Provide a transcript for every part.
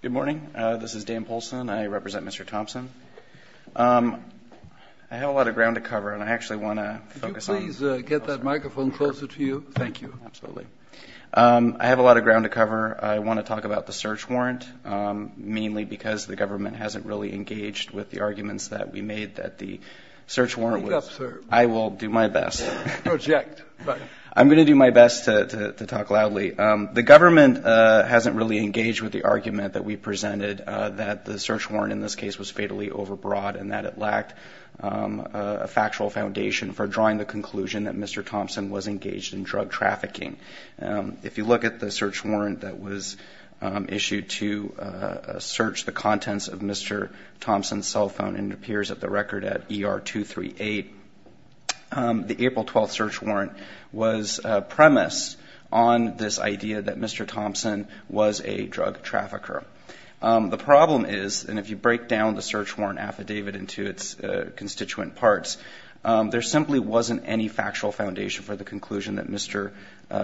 Good morning. This is Dan Polson. I represent Mr. Thompson. I have a lot of ground to cover, and I actually want to focus on Could you please get that microphone closer to you? Thank you. Absolutely. I have a lot of ground to cover. I want to talk about the search warrant, mainly because the government hasn't really engaged with the arguments that we made that the search warrant was Speak up, sir. I will do my best. Project. I'm going to do my best to talk loudly. The government hasn't really engaged with the argument that we presented that the search warrant in this case was fatally overbroad and that it lacked a factual foundation for drawing the conclusion that Mr. Thompson was engaged in drug trafficking. If you look at the search warrant that was issued to search the contents of Mr. Thompson's cell phone, and it appears at the premise on this idea that Mr. Thompson was a drug trafficker. The problem is, and if you break down the search warrant affidavit into its constituent parts, there simply wasn't any factual foundation for the conclusion that Mr.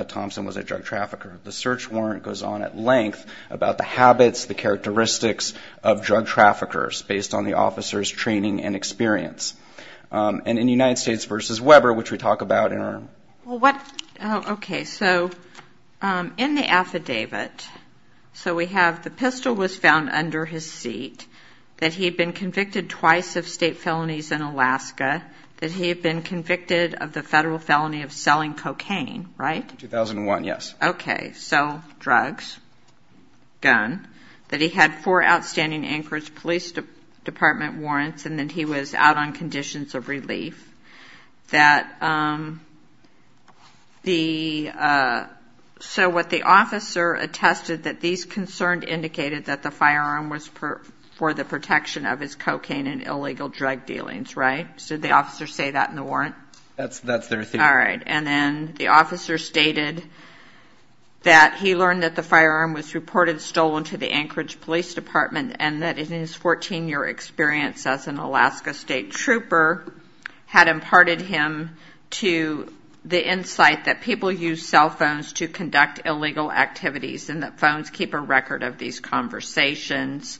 Thompson was a drug trafficker. The search warrant goes on at length about the habits, the characteristics of drug traffickers based on the officer's training and experience. And in United Okay. So in the affidavit, so we have the pistol was found under his seat, that he had been convicted twice of state felonies in Alaska, that he had been convicted of the federal felony of selling cocaine, right? 2001, yes. Okay. So drugs, gun, that he had four outstanding Anchorage Police Department warrants, and that he was out on conditions of relief. That So what the officer attested that these concerns indicated that the firearm was for the protection of his cocaine and illegal drug dealings, right? So the officer say that in the warrant? That's their theory. All right. And then the officer stated that he learned that the firearm was reported stolen to the Anchorage Police Department, and that in 14-year experience as an Alaska state trooper, had imparted him to the insight that people use cell phones to conduct illegal activities, and that phones keep a record of these conversations.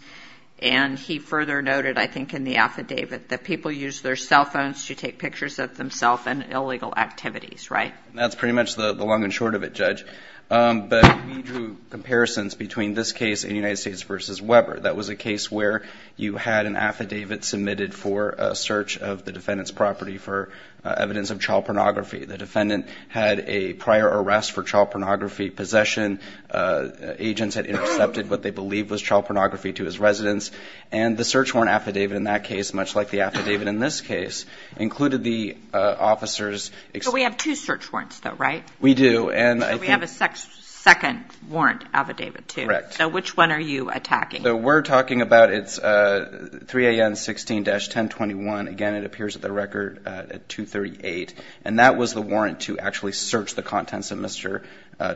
And he further noted, I think in the affidavit, that people use their cell phones to take pictures of themselves and illegal activities, right? And that's pretty much the long and short of it, Judge. But he drew comparisons between this case and United States versus Weber. That was a case where you had an affidavit submitted for a search of the defendant's property for evidence of child pornography. The defendant had a prior arrest for child pornography possession. Agents had intercepted what they believed was child pornography to his residence, and the search warrant affidavit in that case, much like the affidavit in this case, included the officer's... So we have two search warrants, though, right? We do, and I think... So we have a second warrant affidavit, too. Correct. So which one are you attacking? We're talking about it's 3 a.m. 16-1021. Again, it appears at the record at 2.38. And that was the warrant to actually search the contents of Mr.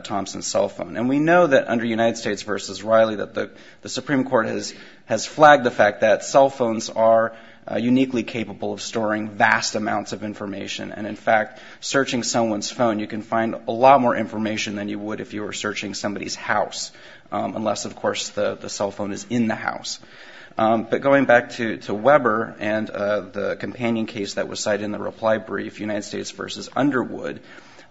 Thompson's cell phone. And we know that under United States versus Riley that the Supreme Court has flagged the fact that cell phones are uniquely capable of storing vast amounts of information. And in fact, searching someone's phone, you can find a lot more information than you would if you were But going back to Weber and the companion case that was cited in the reply brief, United States versus Underwood,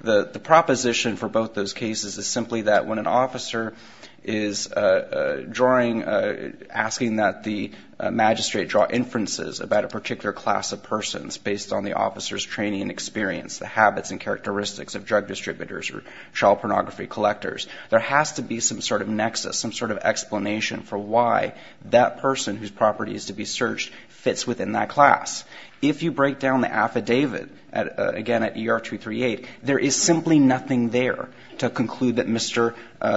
the proposition for both those cases is simply that when an officer is drawing, asking that the magistrate draw inferences about a particular class of persons based on the officer's training and experience, the habits and characteristics of drug distributors or child pornography collectors, there has to be some sort of explanation for why that person whose property is to be searched fits within that class. If you break down the affidavit, again, at ER 238, there is simply nothing there to conclude that Mr.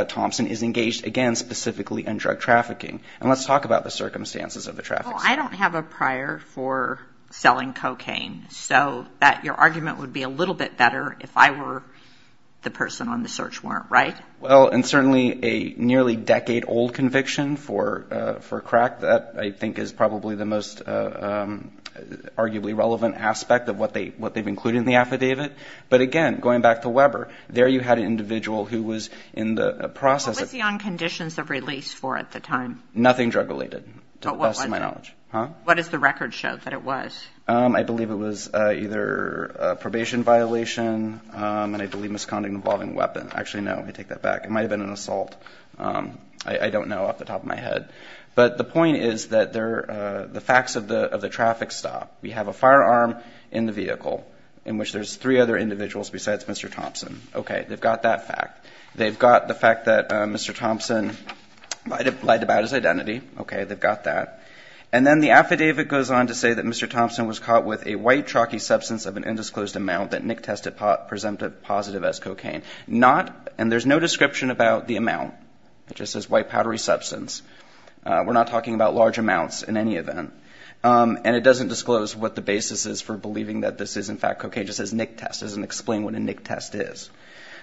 Thompson is engaged, again, specifically in drug trafficking. And let's talk about the circumstances of the trafficking. Well, I don't have a prior for selling cocaine. So your argument would be a little bit better if I were the person on the search warrant, right? Well, and certainly a nearly decade-old conviction for crack that I think is probably the most arguably relevant aspect of what they've included in the affidavit. But again, going back to Weber, there you had an individual who was in the process of What was he on conditions of release for at the time? Nothing drug-related, to the best of my knowledge. But what was it? What does the record show that it was? I believe it was either a probation violation, and I believe misconduct involving a weapon. Actually, no, let me take that back. It might have been an assault. I don't know off the top of my head. But the point is that the facts of the traffic stop. We have a firearm in the vehicle in which there's three other individuals besides Mr. Thompson. Okay, they've got that fact. They've got the fact that Mr. Thompson lied about his identity. Okay, they've got that. And then the affidavit goes on to say that Mr. Thompson was caught with a white, chalky substance of an undisclosed amount that Nick tested presumptive positive as cocaine. Not, and there's no description about the amount. It just says white, powdery substance. We're not talking about large amounts in any event. And it doesn't disclose what the basis is for believing that this is, in fact, cocaine. It just says Nick test. It doesn't explain what a Nick test is.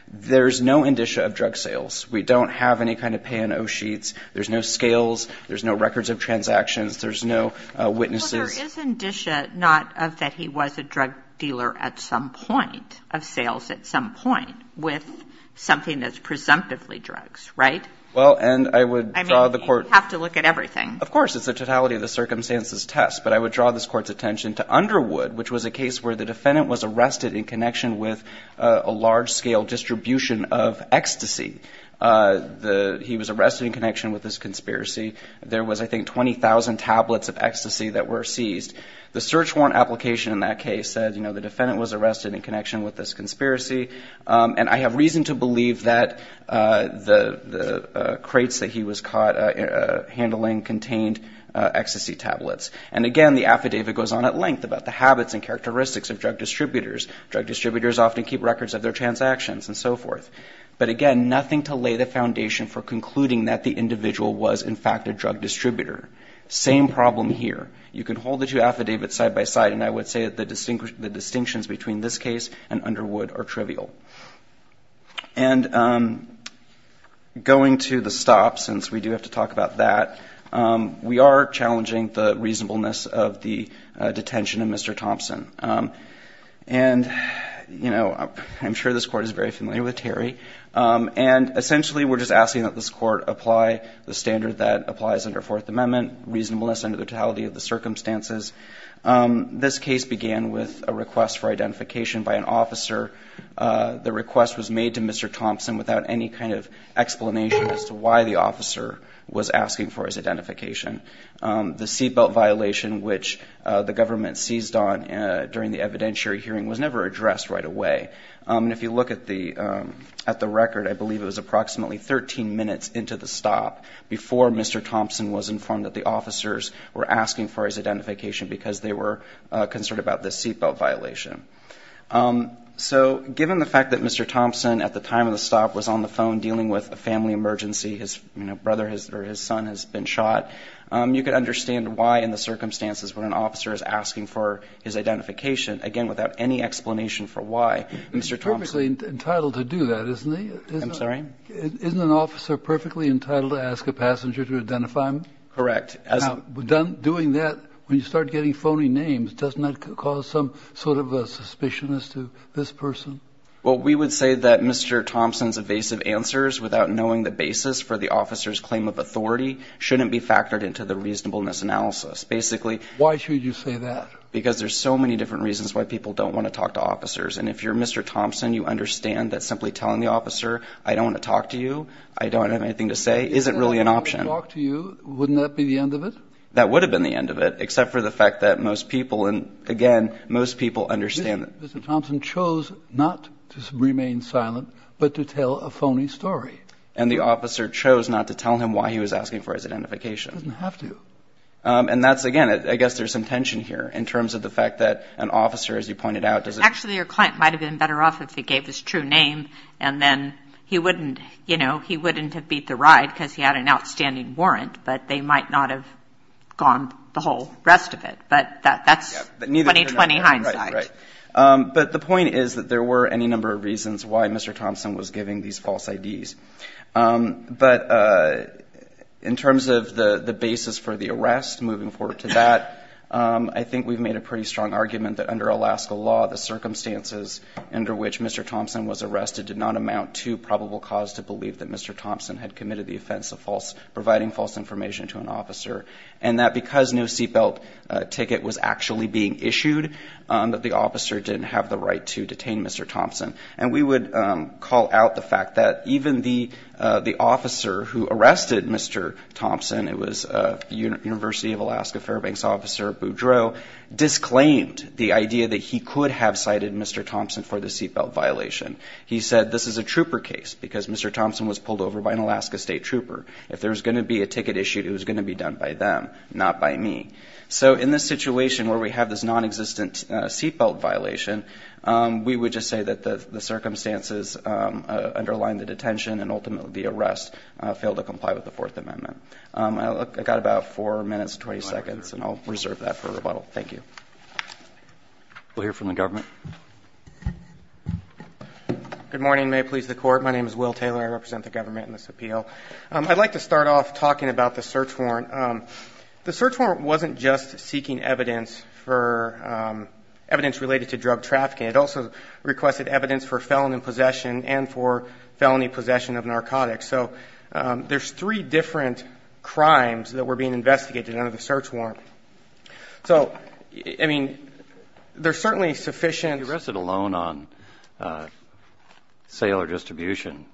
There's no indicia of drug sales. We don't have any kind of pay-and-oh sheets. There's no scales. There's no records of transactions. There's no witnesses. Well, there is indicia, not of that he was a drug dealer at some point, of sales at some point, with something that's presumptively drugs, right? Well, and I would draw the court. I mean, you have to look at everything. Of course. It's the totality of the circumstances test. But I would draw this Court's attention to Underwood, which was a case where the defendant was arrested in connection with a large-scale distribution of ecstasy. He was arrested in connection with this conspiracy. There was, I think, 24 hours and 20,000 tablets of ecstasy that were seized. The search warrant application in that case said, you know, the defendant was arrested in connection with this conspiracy. And I have reason to believe that the crates that he was caught handling contained ecstasy tablets. And, again, the affidavit goes on at length about the habits and characteristics of drug distributors. Drug distributors often keep records of their transactions and so forth. But, again, nothing to lay the foundation for concluding that the individual was, in fact, a drug distributor. Same problem here. You can hold the two affidavits side by side, and I would say that the distinctions between this case and Underwood are trivial. And going to the stop, since we do have to talk about that, we are challenging the reasonableness of the detention of Mr. Thompson. And, you know, I'm sure this Court is very familiar with Terry. And, essentially, we're just asking that this Court apply the standard that applies under Fourth Amendment reasonableness under the totality of the circumstances. This case began with a request for identification by an officer. The request was made to Mr. Thompson without any kind of explanation as to why the officer was asking for his identification. The seatbelt violation, which the government seized on during the evidentiary hearing, was never addressed right away. And if you look at the record, I believe it was approximately 13 minutes into the stop before Mr. Thompson was informed that the officers were asking for his identification because they were concerned about this seatbelt violation. So, given the fact that Mr. Thompson, at the time of the stop, was on the phone dealing with a family emergency, his brother or his son has been shot, you can understand why, in the circumstances, when an officer is asking for his identification, again, without any explanation for why, Mr. Thompson... Correct. Now, doing that, when you start getting phony names, doesn't that cause some sort of a suspicion as to this person? Well, we would say that Mr. Thompson's evasive answers, without knowing the basis for the officer's claim of authority, shouldn't be factored into the reasonableness analysis. Basically... Why should you say that? Because there's so many different reasons why people don't want to talk to officers. And if you're Mr. Thompson, you understand that simply telling the officer, I don't want to talk to you, I don't have anything to say, isn't really an option. If he said, I don't want to talk to you, wouldn't that be the end of it? That would have been the end of it, except for the fact that most people, and again, most people understand... Mr. Thompson chose not to remain silent, but to tell a phony story. And the officer chose not to tell him why he was asking for his identification. He doesn't have to. And that's, again, I guess there's some tension here in terms of the fact that an officer, as you pointed out... Actually, your client might have been better off if he gave his true name, and then he wouldn't, you know, he wouldn't have beat the ride because he had an outstanding warrant, but they might not have gone the whole rest of it. But that's 20-20 hindsight. But the point is that there were any number of reasons why Mr. Thompson was giving these false IDs. But in terms of the basis for the arrest, moving forward to that, I think we've made a pretty strong argument that under Alaska law, the circumstances under which Mr. Thompson was arrested did not amount to probable cause to believe that Mr. Thompson had committed the offense of providing false information to an officer. And that because no seatbelt ticket was actually being issued, that the officer didn't have the right to detain Mr. Thompson. And we would call out the fact that even the officer who arrested Mr. Thompson, it was University of Alaska Fairbanks officer Boudreaux, disclaimed the idea that he could have cited Mr. Thompson for the seatbelt violation. He said, this is a trooper case, because Mr. Thompson was pulled over by an Alaska state trooper. If there was going to be a ticket issued, it was going to be done by them, not by me. So in this situation where we have this nonexistent seatbelt violation, we would just say that the circumstances underlying the detention and ultimately the arrest failed to comply with the Fourth Amendment. I've got about 4 minutes and 20 seconds, and I'll reserve that for rebuttal. Thank you. We'll hear from the government. Good morning. May it please the Court. My name is Will Taylor. I represent the government in this appeal. I'd like to start off talking about the search warrant. The search warrant wasn't just seeking evidence for evidence related to drug trafficking. It also requested evidence for felony possession and for felony possession of narcotics. So there's three different crimes that were being investigated under the search warrant. So, I mean, there's certainly sufficient... If you're arrested alone on sale or distribution,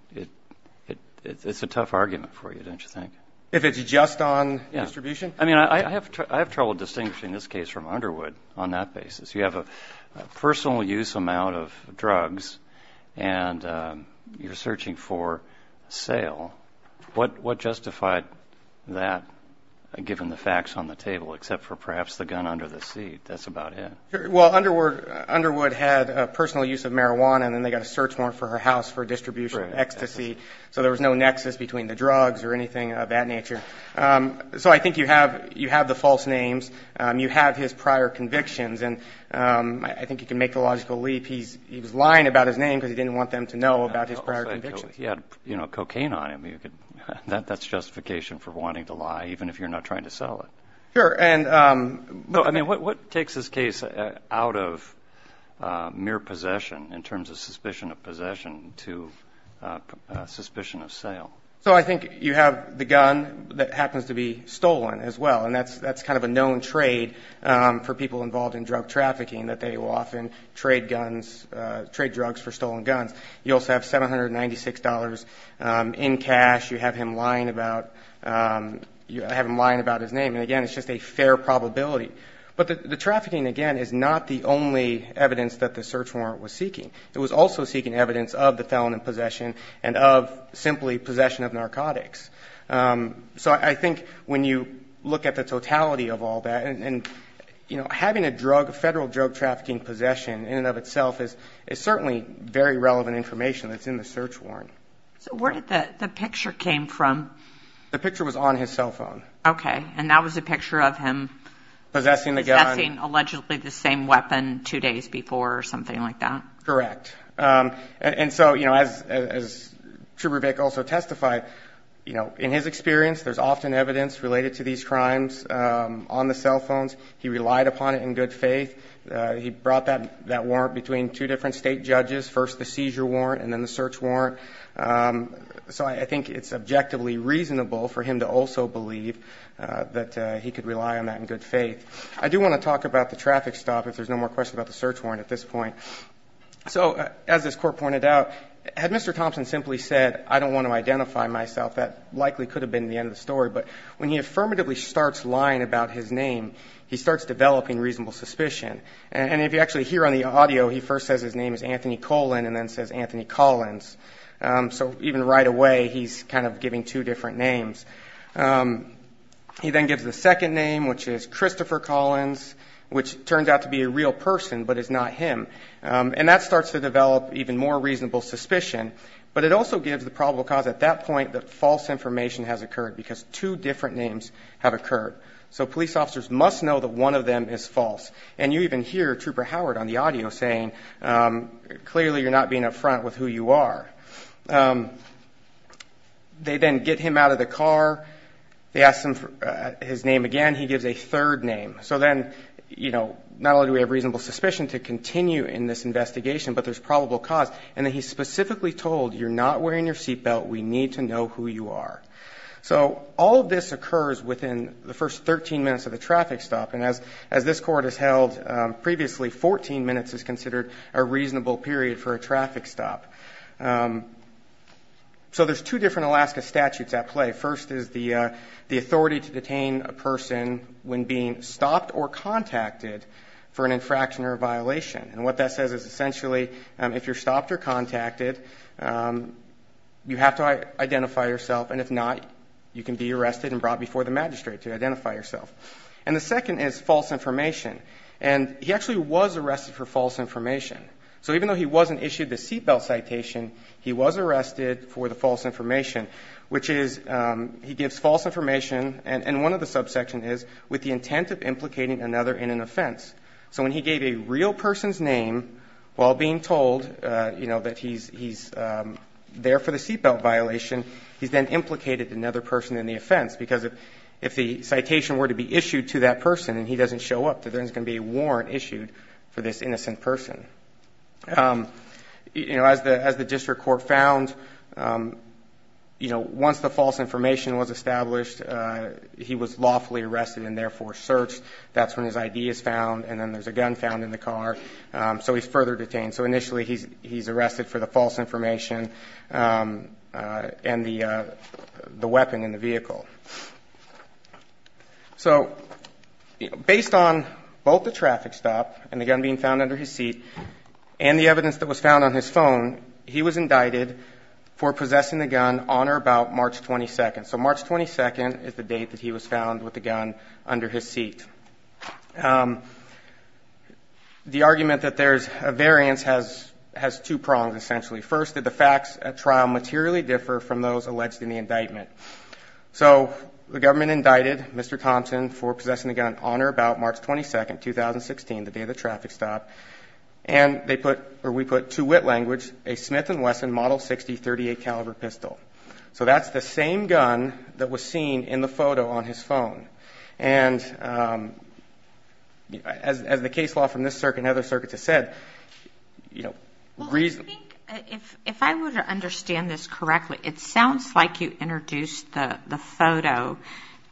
it's a tough argument for you, don't you think? If it's just on distribution? Yeah. I mean, I have trouble distinguishing this case from Underwood on that basis. You have a personal use amount of drugs, and you're searching for sale. What justified that, given the facts on the table, except for perhaps the gun under the seat? That's about it. Well, Underwood had a personal use of marijuana, and then they got a search warrant for her house for distribution of ecstasy. So there was no nexus between the drugs or anything of that nature. So I think you have the false names. You have his prior convictions. And I think you can make the logical leap. He was lying about his name because he didn't want them to know about his prior convictions. He had cocaine on him. That's justification for wanting to lie, even if you're not trying to sell it. Sure. I mean, what takes this case out of mere possession in terms of suspicion of possession to suspicion of sale? So I think you have the gun that happens to be stolen as well. And that's kind of a known trade for people involved in drug trafficking, that they will often trade drugs for stolen guns. You also have $796 in cash. You have him lying about his name. And again, it's just a fair probability. But the trafficking, again, is not the only evidence that the search warrant was seeking. It was also seeking evidence of the felon in possession and of simply possession of narcotics. So I think when you look at the totality of all that, and, you know, having a drug, a federal drug trafficking possession in and of itself is certainly very relevant information that's in the search warrant. So where did the picture came from? The picture was on his cell phone. Okay. And that was a picture of him possessing the gun. Possessing allegedly the same weapon two days before or something like that. Correct. And so, you know, as Trubervick also testified, you know, in his experience, there's often evidence related to these crimes on the cell phones. He relied upon it in good faith. He brought that warrant between two different state judges, first the seizure warrant and then the search warrant. So I think it's objectively reasonable for him to also believe that he could rely on that in good faith. I do want to talk about the traffic stop if there's no more questions about the search warrant at this point. So as this court pointed out, had Mr. Thompson simply said, I don't want to identify myself, that likely could have been the end of the story. But when he affirmatively starts lying about his name, he starts developing reasonable suspicion. And if you actually hear on the audio, he first says his name is Anthony Colin and then says Anthony Collins. So even right away, he's kind of giving two different names. He then gives the second name, which is Christopher Collins, which turns out to be a real person, but it's not him. And that starts to develop even more reasonable suspicion. But it also gives the probable cause at that point that false information has occurred because two different names have occurred. So police officers must know that one of them is false. And you even hear Trooper Howard on the audio saying, clearly you're not being up front with who you are. They then get him out of the car. They ask him for his name again. He gives a third name. So then, you know, not only do we have reasonable suspicion to continue in this investigation, but there's probable cause. And then he's specifically told, you're not wearing your seatbelt, we need to know who you are. So all of this occurs within the first 13 minutes of the traffic stop. And as this Court has held previously, 14 minutes is considered a reasonable period for a traffic stop. So there's two different Alaska statutes at play. First is the authority to detain a person when being stopped or contacted for an infraction or a violation. And what that says is essentially, if you're stopped or contacted, you have to identify yourself, and if not, you can be arrested and brought before the magistrate to identify yourself. And the second is false information. And he actually was arrested for false information. So even though he wasn't issued the seatbelt citation, he was arrested for the false information, which is, he gives false information, and one of the subsection is, with the intent of implicating another in an offense. So when he gave a real person's name while being told, you know, that he's there for the seatbelt violation, he's then implicated another person in the offense, because if the citation were to be issued to that person, and he doesn't show up, there isn't going to be a warrant issued for this innocent person. You know, as the District Court found, you know, once the false information was established, he was lawfully arrested and therefore searched. That's when his ID is found, and then there's a gun found in the car, so he's further detained. So initially he's arrested for the false information and the weapon in the vehicle. So based on both the traffic stop and the gun being found under his seat, and the evidence that was found on his phone, he was indicted for possessing the gun on or about March 22nd. So March 22nd is the date that he was found with the gun under his seat. The argument that there's a variance has two prongs, essentially. First, did the facts at trial materially differ from those alleged in the indictment? So the government indicted Mr. Thompson for possessing the gun on or about March 22nd, 2016, the day of the traffic stop, and they put, or we put to wit language, a Smith & Wesson Model 60 .38 caliber pistol. So that's the same gun that was seen in the photo on his phone. And as the case law from this circuit and other circuits has said, you know, reason... Well, I think if I were to understand this correctly, it sounds like you introduced the photo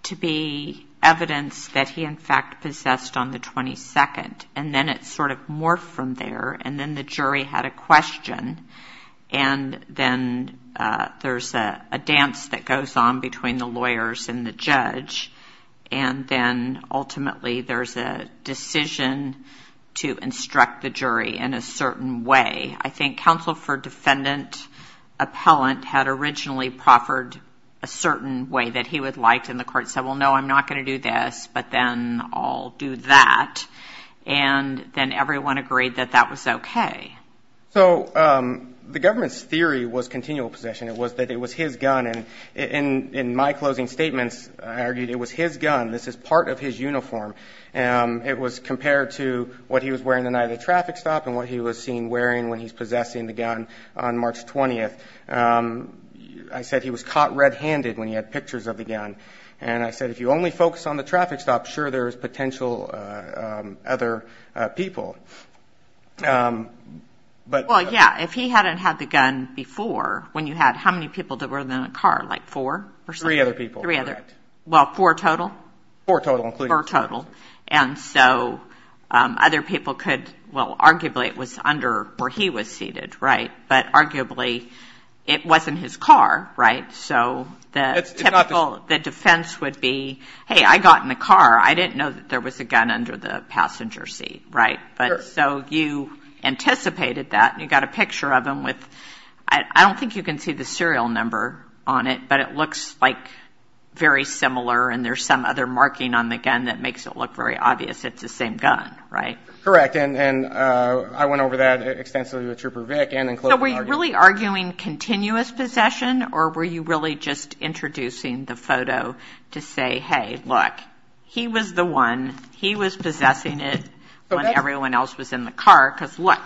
to be evidence that he in fact possessed on the 22nd, and then it sort of morphed from there, and then the jury had a question, and then there's a dance that goes on between the lawyers and the judge, and then ultimately there's a decision to instruct the jury in a certain way. I think counsel for defendant appellant had originally proffered a certain way that he would like, and the court said, well, no, I'm not going to do this, but then I'll do that. And then everyone agreed that that was okay. So the government's theory was continual possession. It was that it was his gun, and in my closing statements, I argued it was his gun. This is part of his uniform. It was compared to what he was wearing the night of the traffic stop and what he was seen wearing when he's possessing the gun on March 20th. I said he was caught red-handed when he had pictures of the gun, and I said if you only focus on the traffic stop, sure, there's potential other people. Well, yeah, if he hadn't had the gun before, when you had how many people that were in the car? Like four or something? Three other people. Three other people. Well, four total. And so other people could, well, arguably it was under where he was seated, right? But arguably it wasn't his car, right? So the defense would be, hey, I got in the car. I didn't know that there was a gun under the passenger seat, right? So you anticipated that, and you got a picture of him with, I don't think you can see the serial number on it, but it looks like very similar and there's some other marking on the gun that makes it look very obvious it's the same gun, right? Correct, and I went over that extensively with Trooper Vic and in closing arguments. So were you really arguing continuous possession, or were you really just introducing the photo to say, hey, look, he was the one. He was possessing it when everyone else was in the car, because, look,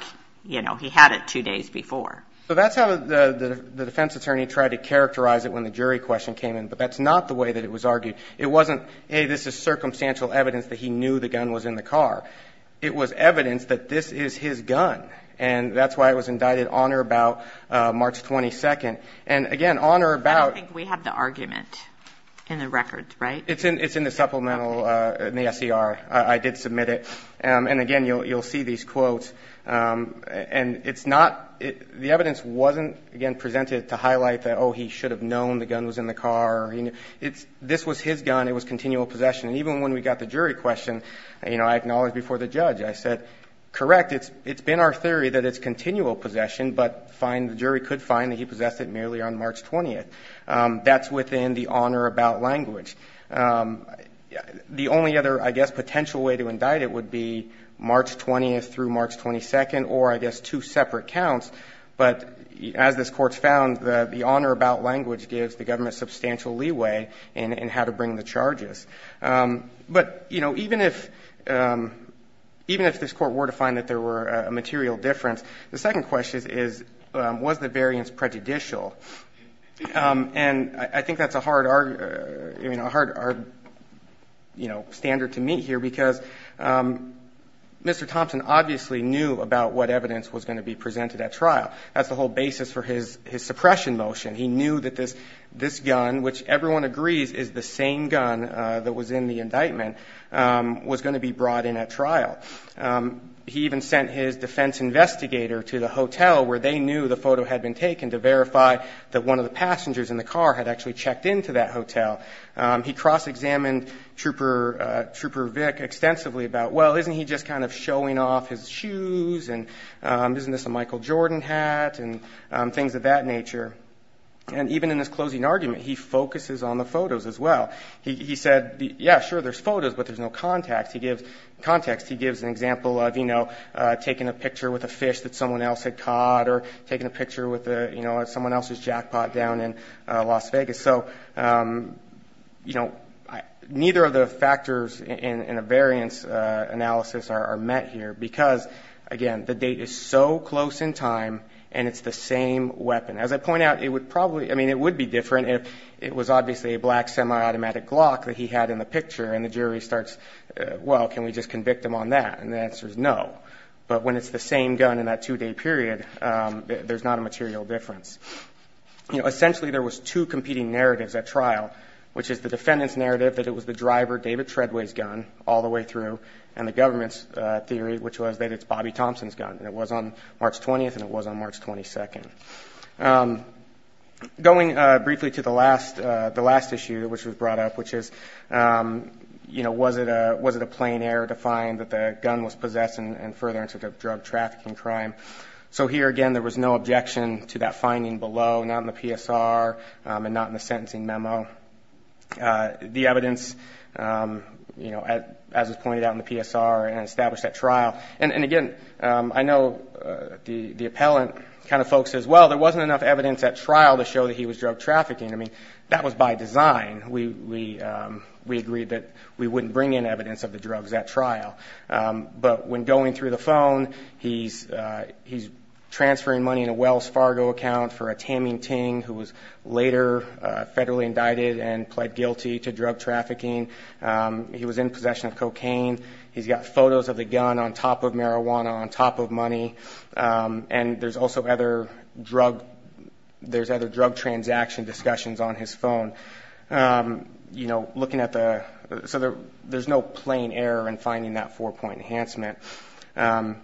he had it two days before. So that's how the defense attorney tried to characterize it when the jury question came in, but that's not the way that it was argued. It wasn't, hey, this is circumstantial evidence that he knew the gun was in the car. It was evidence that this is his gun, and that's why it was indicted on or about March 22. And, again, on or about. I don't think we have the argument in the records, right? It's in the supplemental in the SCR. I did submit it. And, again, you'll see these quotes. And it's not the evidence wasn't, again, presented to highlight that, oh, he should have known the gun was in the car. This was his gun. It was continual possession. And even when we got the jury question, you know, I acknowledged before the judge. I said, correct, it's been our theory that it's continual possession, but the jury could find that he possessed it merely on March 20. That's within the on or about language. The only other, I guess, potential way to indict it would be March 20 through March 22, or I guess two separate counts. But as this Court's found, the on or about language gives the government substantial leeway in how to bring the charges. But, you know, even if this Court were to find that there were a material difference, the second question is, was the variance prejudicial? And I think that's a hard, you know, standard to meet here, because Mr. Thompson obviously knew about what evidence was going to be presented at trial. That's the whole basis for his suppression motion. He knew that this gun, which everyone agrees is the same gun that was in the indictment, was going to be brought in at trial. He even sent his defense investigator to the hotel where they knew the photo had been taken to verify that one of the passengers in the car had actually checked into that hotel. He cross-examined Trooper Vic extensively about, well, isn't he just kind of showing off his shoes, and isn't this a Michael Jordan hat, and things of that nature. And even in his closing argument, he focuses on the photos as well. He said, yeah, sure, there's photos, but there's no context. He gives context. He gives an example of, you know, taking a picture with a fish that someone else had caught or taking a picture with someone else's jackpot down in Las Vegas. So, you know, neither of the factors in a variance analysis are met here, because, again, the date is so close in time, and it's the same weapon. As I point out, it would probably, I mean, it would be different if it was obviously a black semi-automatic Glock that he had in the picture, and the jury starts, well, can we just convict him on that? And the answer is no. But when it's the same gun in that two-day period, there's not a material difference. You know, essentially there was two competing narratives at trial, which is the defendant's narrative that it was the driver, David Treadway's gun, all the way through, and the government's theory, which was that it's Bobby Thompson's gun. And it was on March 20th, and it was on March 22nd. Going briefly to the last issue which was brought up, which is, you know, was it a plain error to find that the gun was possessed and further incident of drug trafficking crime? So here, again, there was no objection to that finding below, not in the PSR and not in the sentencing memo. The evidence, you know, as was pointed out in the PSR and established at trial. And, again, I know the appellant kind of folks as well, there wasn't enough evidence at trial to show that he was drug trafficking. I mean, that was by design. We agreed that we wouldn't bring in evidence of the drugs at trial. But when going through the phone, he's transferring money in a Wells Fargo account for a Taming Ting, who was later federally indicted and pled guilty to drug trafficking. He was in possession of cocaine. He's got photos of the gun on top of marijuana, on top of money. And there's also other drug transaction discussions on his phone. You know, looking at the so there's no plain error in finding that four-point enhancement.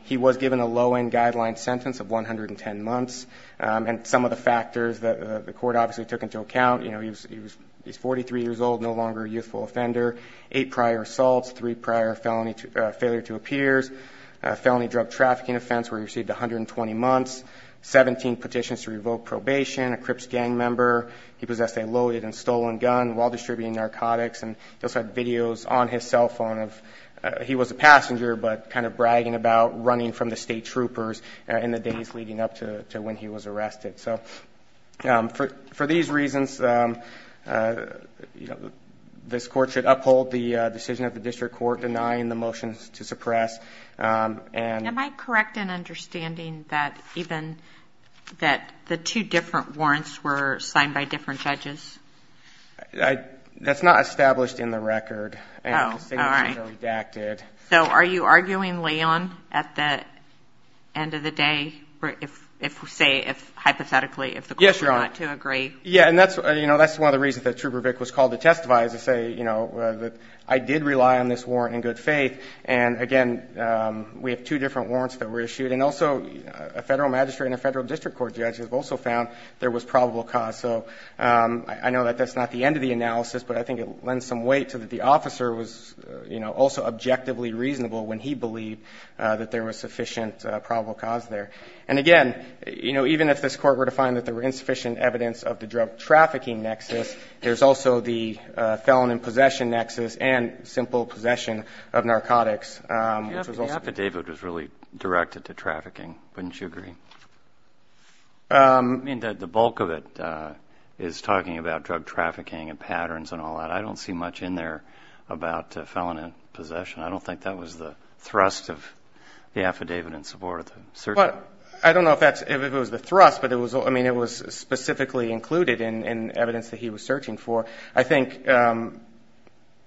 He was given a low-end guideline sentence of 110 months. And some of the factors that the court obviously took into account, you know, he's 43 years old, no longer a youthful offender, eight prior assaults, three prior failure to appears, a felony drug trafficking offense where he received 120 months, 17 petitions to revoke probation, a Crips gang member. He possessed a loaded and stolen gun while distributing narcotics. And he also had videos on his cell phone of he was a passenger, but kind of bragging about running from the state troopers in the days leading up to when he was arrested. So for these reasons, you know, this court should uphold the decision of the district court denying the motions to suppress. Am I correct in understanding that even that the two different warrants were signed by different judges? That's not established in the record. Oh, all right. So are you arguing Leon at the end of the day if, say, hypothetically, if the court were not to agree? Yes, Your Honor. Yeah, and that's, you know, that's one of the reasons that Trooper Vick was called to testify, is to say, you know, that I did rely on this warrant in good faith. And, again, we have two different warrants that were issued. And also a federal magistrate and a federal district court judge have also found there was probable cause. So I know that that's not the end of the analysis, but I think it lends some weight to that the officer was, you know, also objectively reasonable when he believed that there was sufficient probable cause there. And, again, you know, even if this court were to find that there were insufficient evidence of the drug trafficking nexus, there's also the felon in possession nexus and simple possession of narcotics. The affidavit was really directed to trafficking, wouldn't you agree? I mean, the bulk of it is talking about drug trafficking and patterns and all that. I don't see much in there about felon in possession. I don't think that was the thrust of the affidavit in support of the search warrant. I don't know if it was the thrust, but it was specifically included in evidence that he was searching for. I think I'm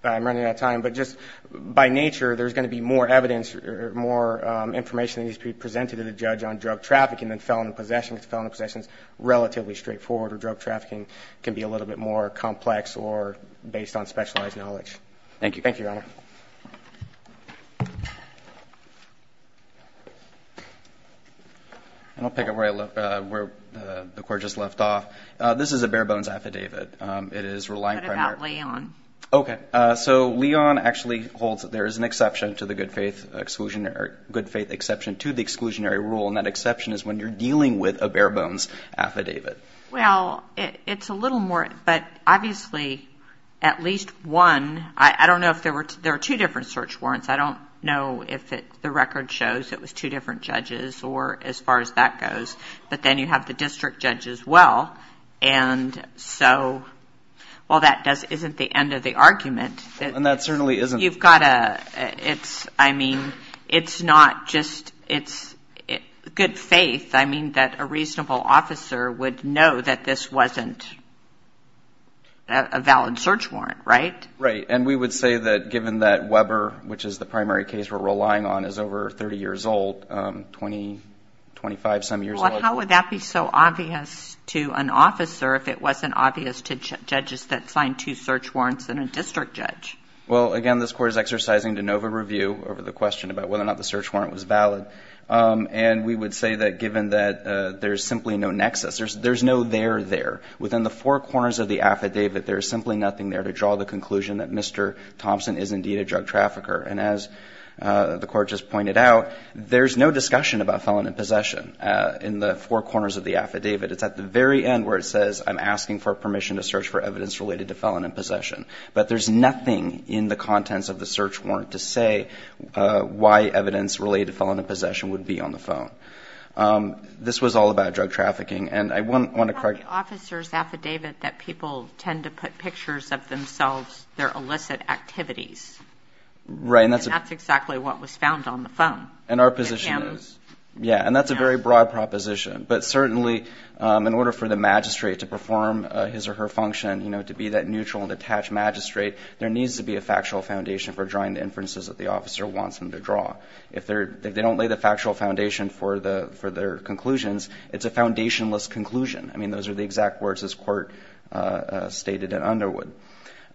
running out of time, but just by nature there's going to be more evidence, more information that needs to be presented to the judge on drug trafficking than felon in possession because felon in possession is relatively straightforward, or drug trafficking can be a little bit more complex or based on specialized knowledge. Thank you. Thank you, Your Honor. I'll pick up where the court just left off. This is a bare bones affidavit. It is relying primarily on. What about Leon? Okay. So Leon actually holds that there is an exception to the good faith exclusionary, good faith exception to the exclusionary rule, and that exception is when you're dealing with a bare bones affidavit. Well, it's a little more, but obviously at least one. I don't know if there were two different search warrants. I don't know if the record shows it was two different judges or as far as that goes, but then you have the district judge as well. And so, well, that isn't the end of the argument. And that certainly isn't. You've got to, I mean, it's not just good faith. I mean, that a reasonable officer would know that this wasn't a valid search warrant, right? Right. And we would say that given that Weber, which is the primary case we're relying on, is over 30 years old, 20, 25 some years old. Well, how would that be so obvious to an officer if it wasn't obvious to judges that signed two search warrants and a district judge? Well, again, this Court is exercising de novo review over the question about whether or not the search warrant was valid. And we would say that given that there's simply no nexus, there's no there there. Within the four corners of the affidavit, there's simply nothing there to draw the conclusion that Mr. Thompson is indeed a drug trafficker. And as the Court just pointed out, there's no discussion about felon in possession in the four corners of the affidavit. It's at the very end where it says, I'm asking for permission to search for evidence related to felon in possession. But there's nothing in the contents of the search warrant to say why evidence related to felon in possession would be on the phone. This was all about drug trafficking. And I want to correct you. It's not the officer's affidavit that people tend to put pictures of themselves, their illicit activities. Right. And that's exactly what was found on the phone. And our position is. Yeah. And that's a very broad proposition. But certainly, in order for the magistrate to perform his or her function, to be that neutral and detached magistrate, there needs to be a factual foundation for drawing the inferences that the officer wants them to draw. If they don't lay the factual foundation for their conclusions, it's a foundationless conclusion. I mean, those are the exact words this Court stated in Underwood.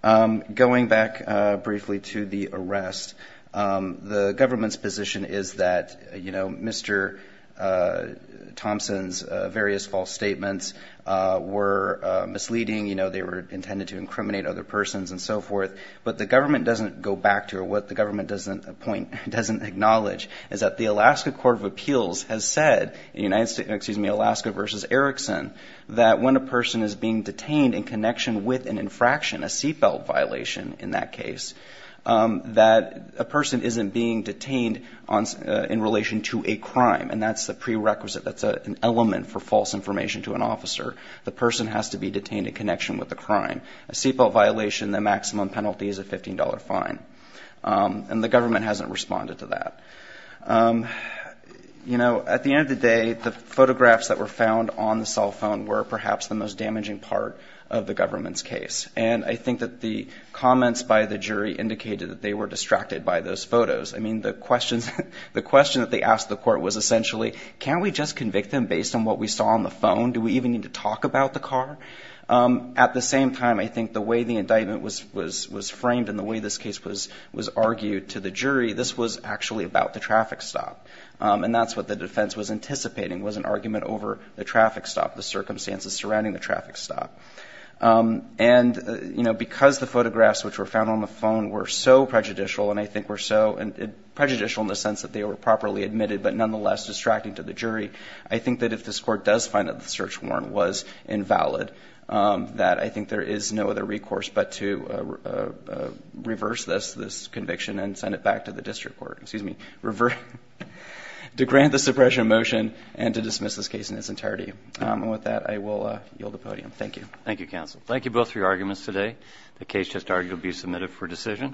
Going back briefly to the arrest, the government's position is that, you know, Mr. Thompson's various false statements were misleading. You know, they were intended to incriminate other persons and so forth. But the government doesn't go back to it. What the government doesn't acknowledge is that the Alaska Court of Appeals has said in Alaska v. Erickson that when a person is being detained in connection with an infraction, a seatbelt violation in that case, that a person isn't being detained in relation to a crime. And that's the prerequisite. That's an element for false information to an officer. The person has to be detained in connection with the crime. A seatbelt violation, the maximum penalty is a $15 fine. And the government hasn't responded to that. You know, at the end of the day, the photographs that were found on the cell phone were perhaps the most damaging part of the government's case. And I think that the comments by the jury indicated that they were distracted by those photos. I mean, the question that they asked the court was essentially, can't we just convict them based on what we saw on the phone? Do we even need to talk about the car? At the same time, I think the way the indictment was framed and the way this case was argued to the jury, this was actually about the traffic stop. And that's what the defense was anticipating, was an argument over the traffic stop, the circumstances surrounding the traffic stop. And because the photographs which were found on the phone were so prejudicial and I think were so prejudicial in the sense that they were properly admitted but nonetheless distracting to the jury, I think that if this court does find that the search warrant was invalid, that I think there is no other recourse but to reverse this conviction and send it back to the district court, excuse me, to grant the suppression of motion and to dismiss this case in its entirety. Thank you. And with that, I will yield the podium. Thank you. Thank you, counsel. Thank you both for your arguments today. The case just argued to be submitted for decision.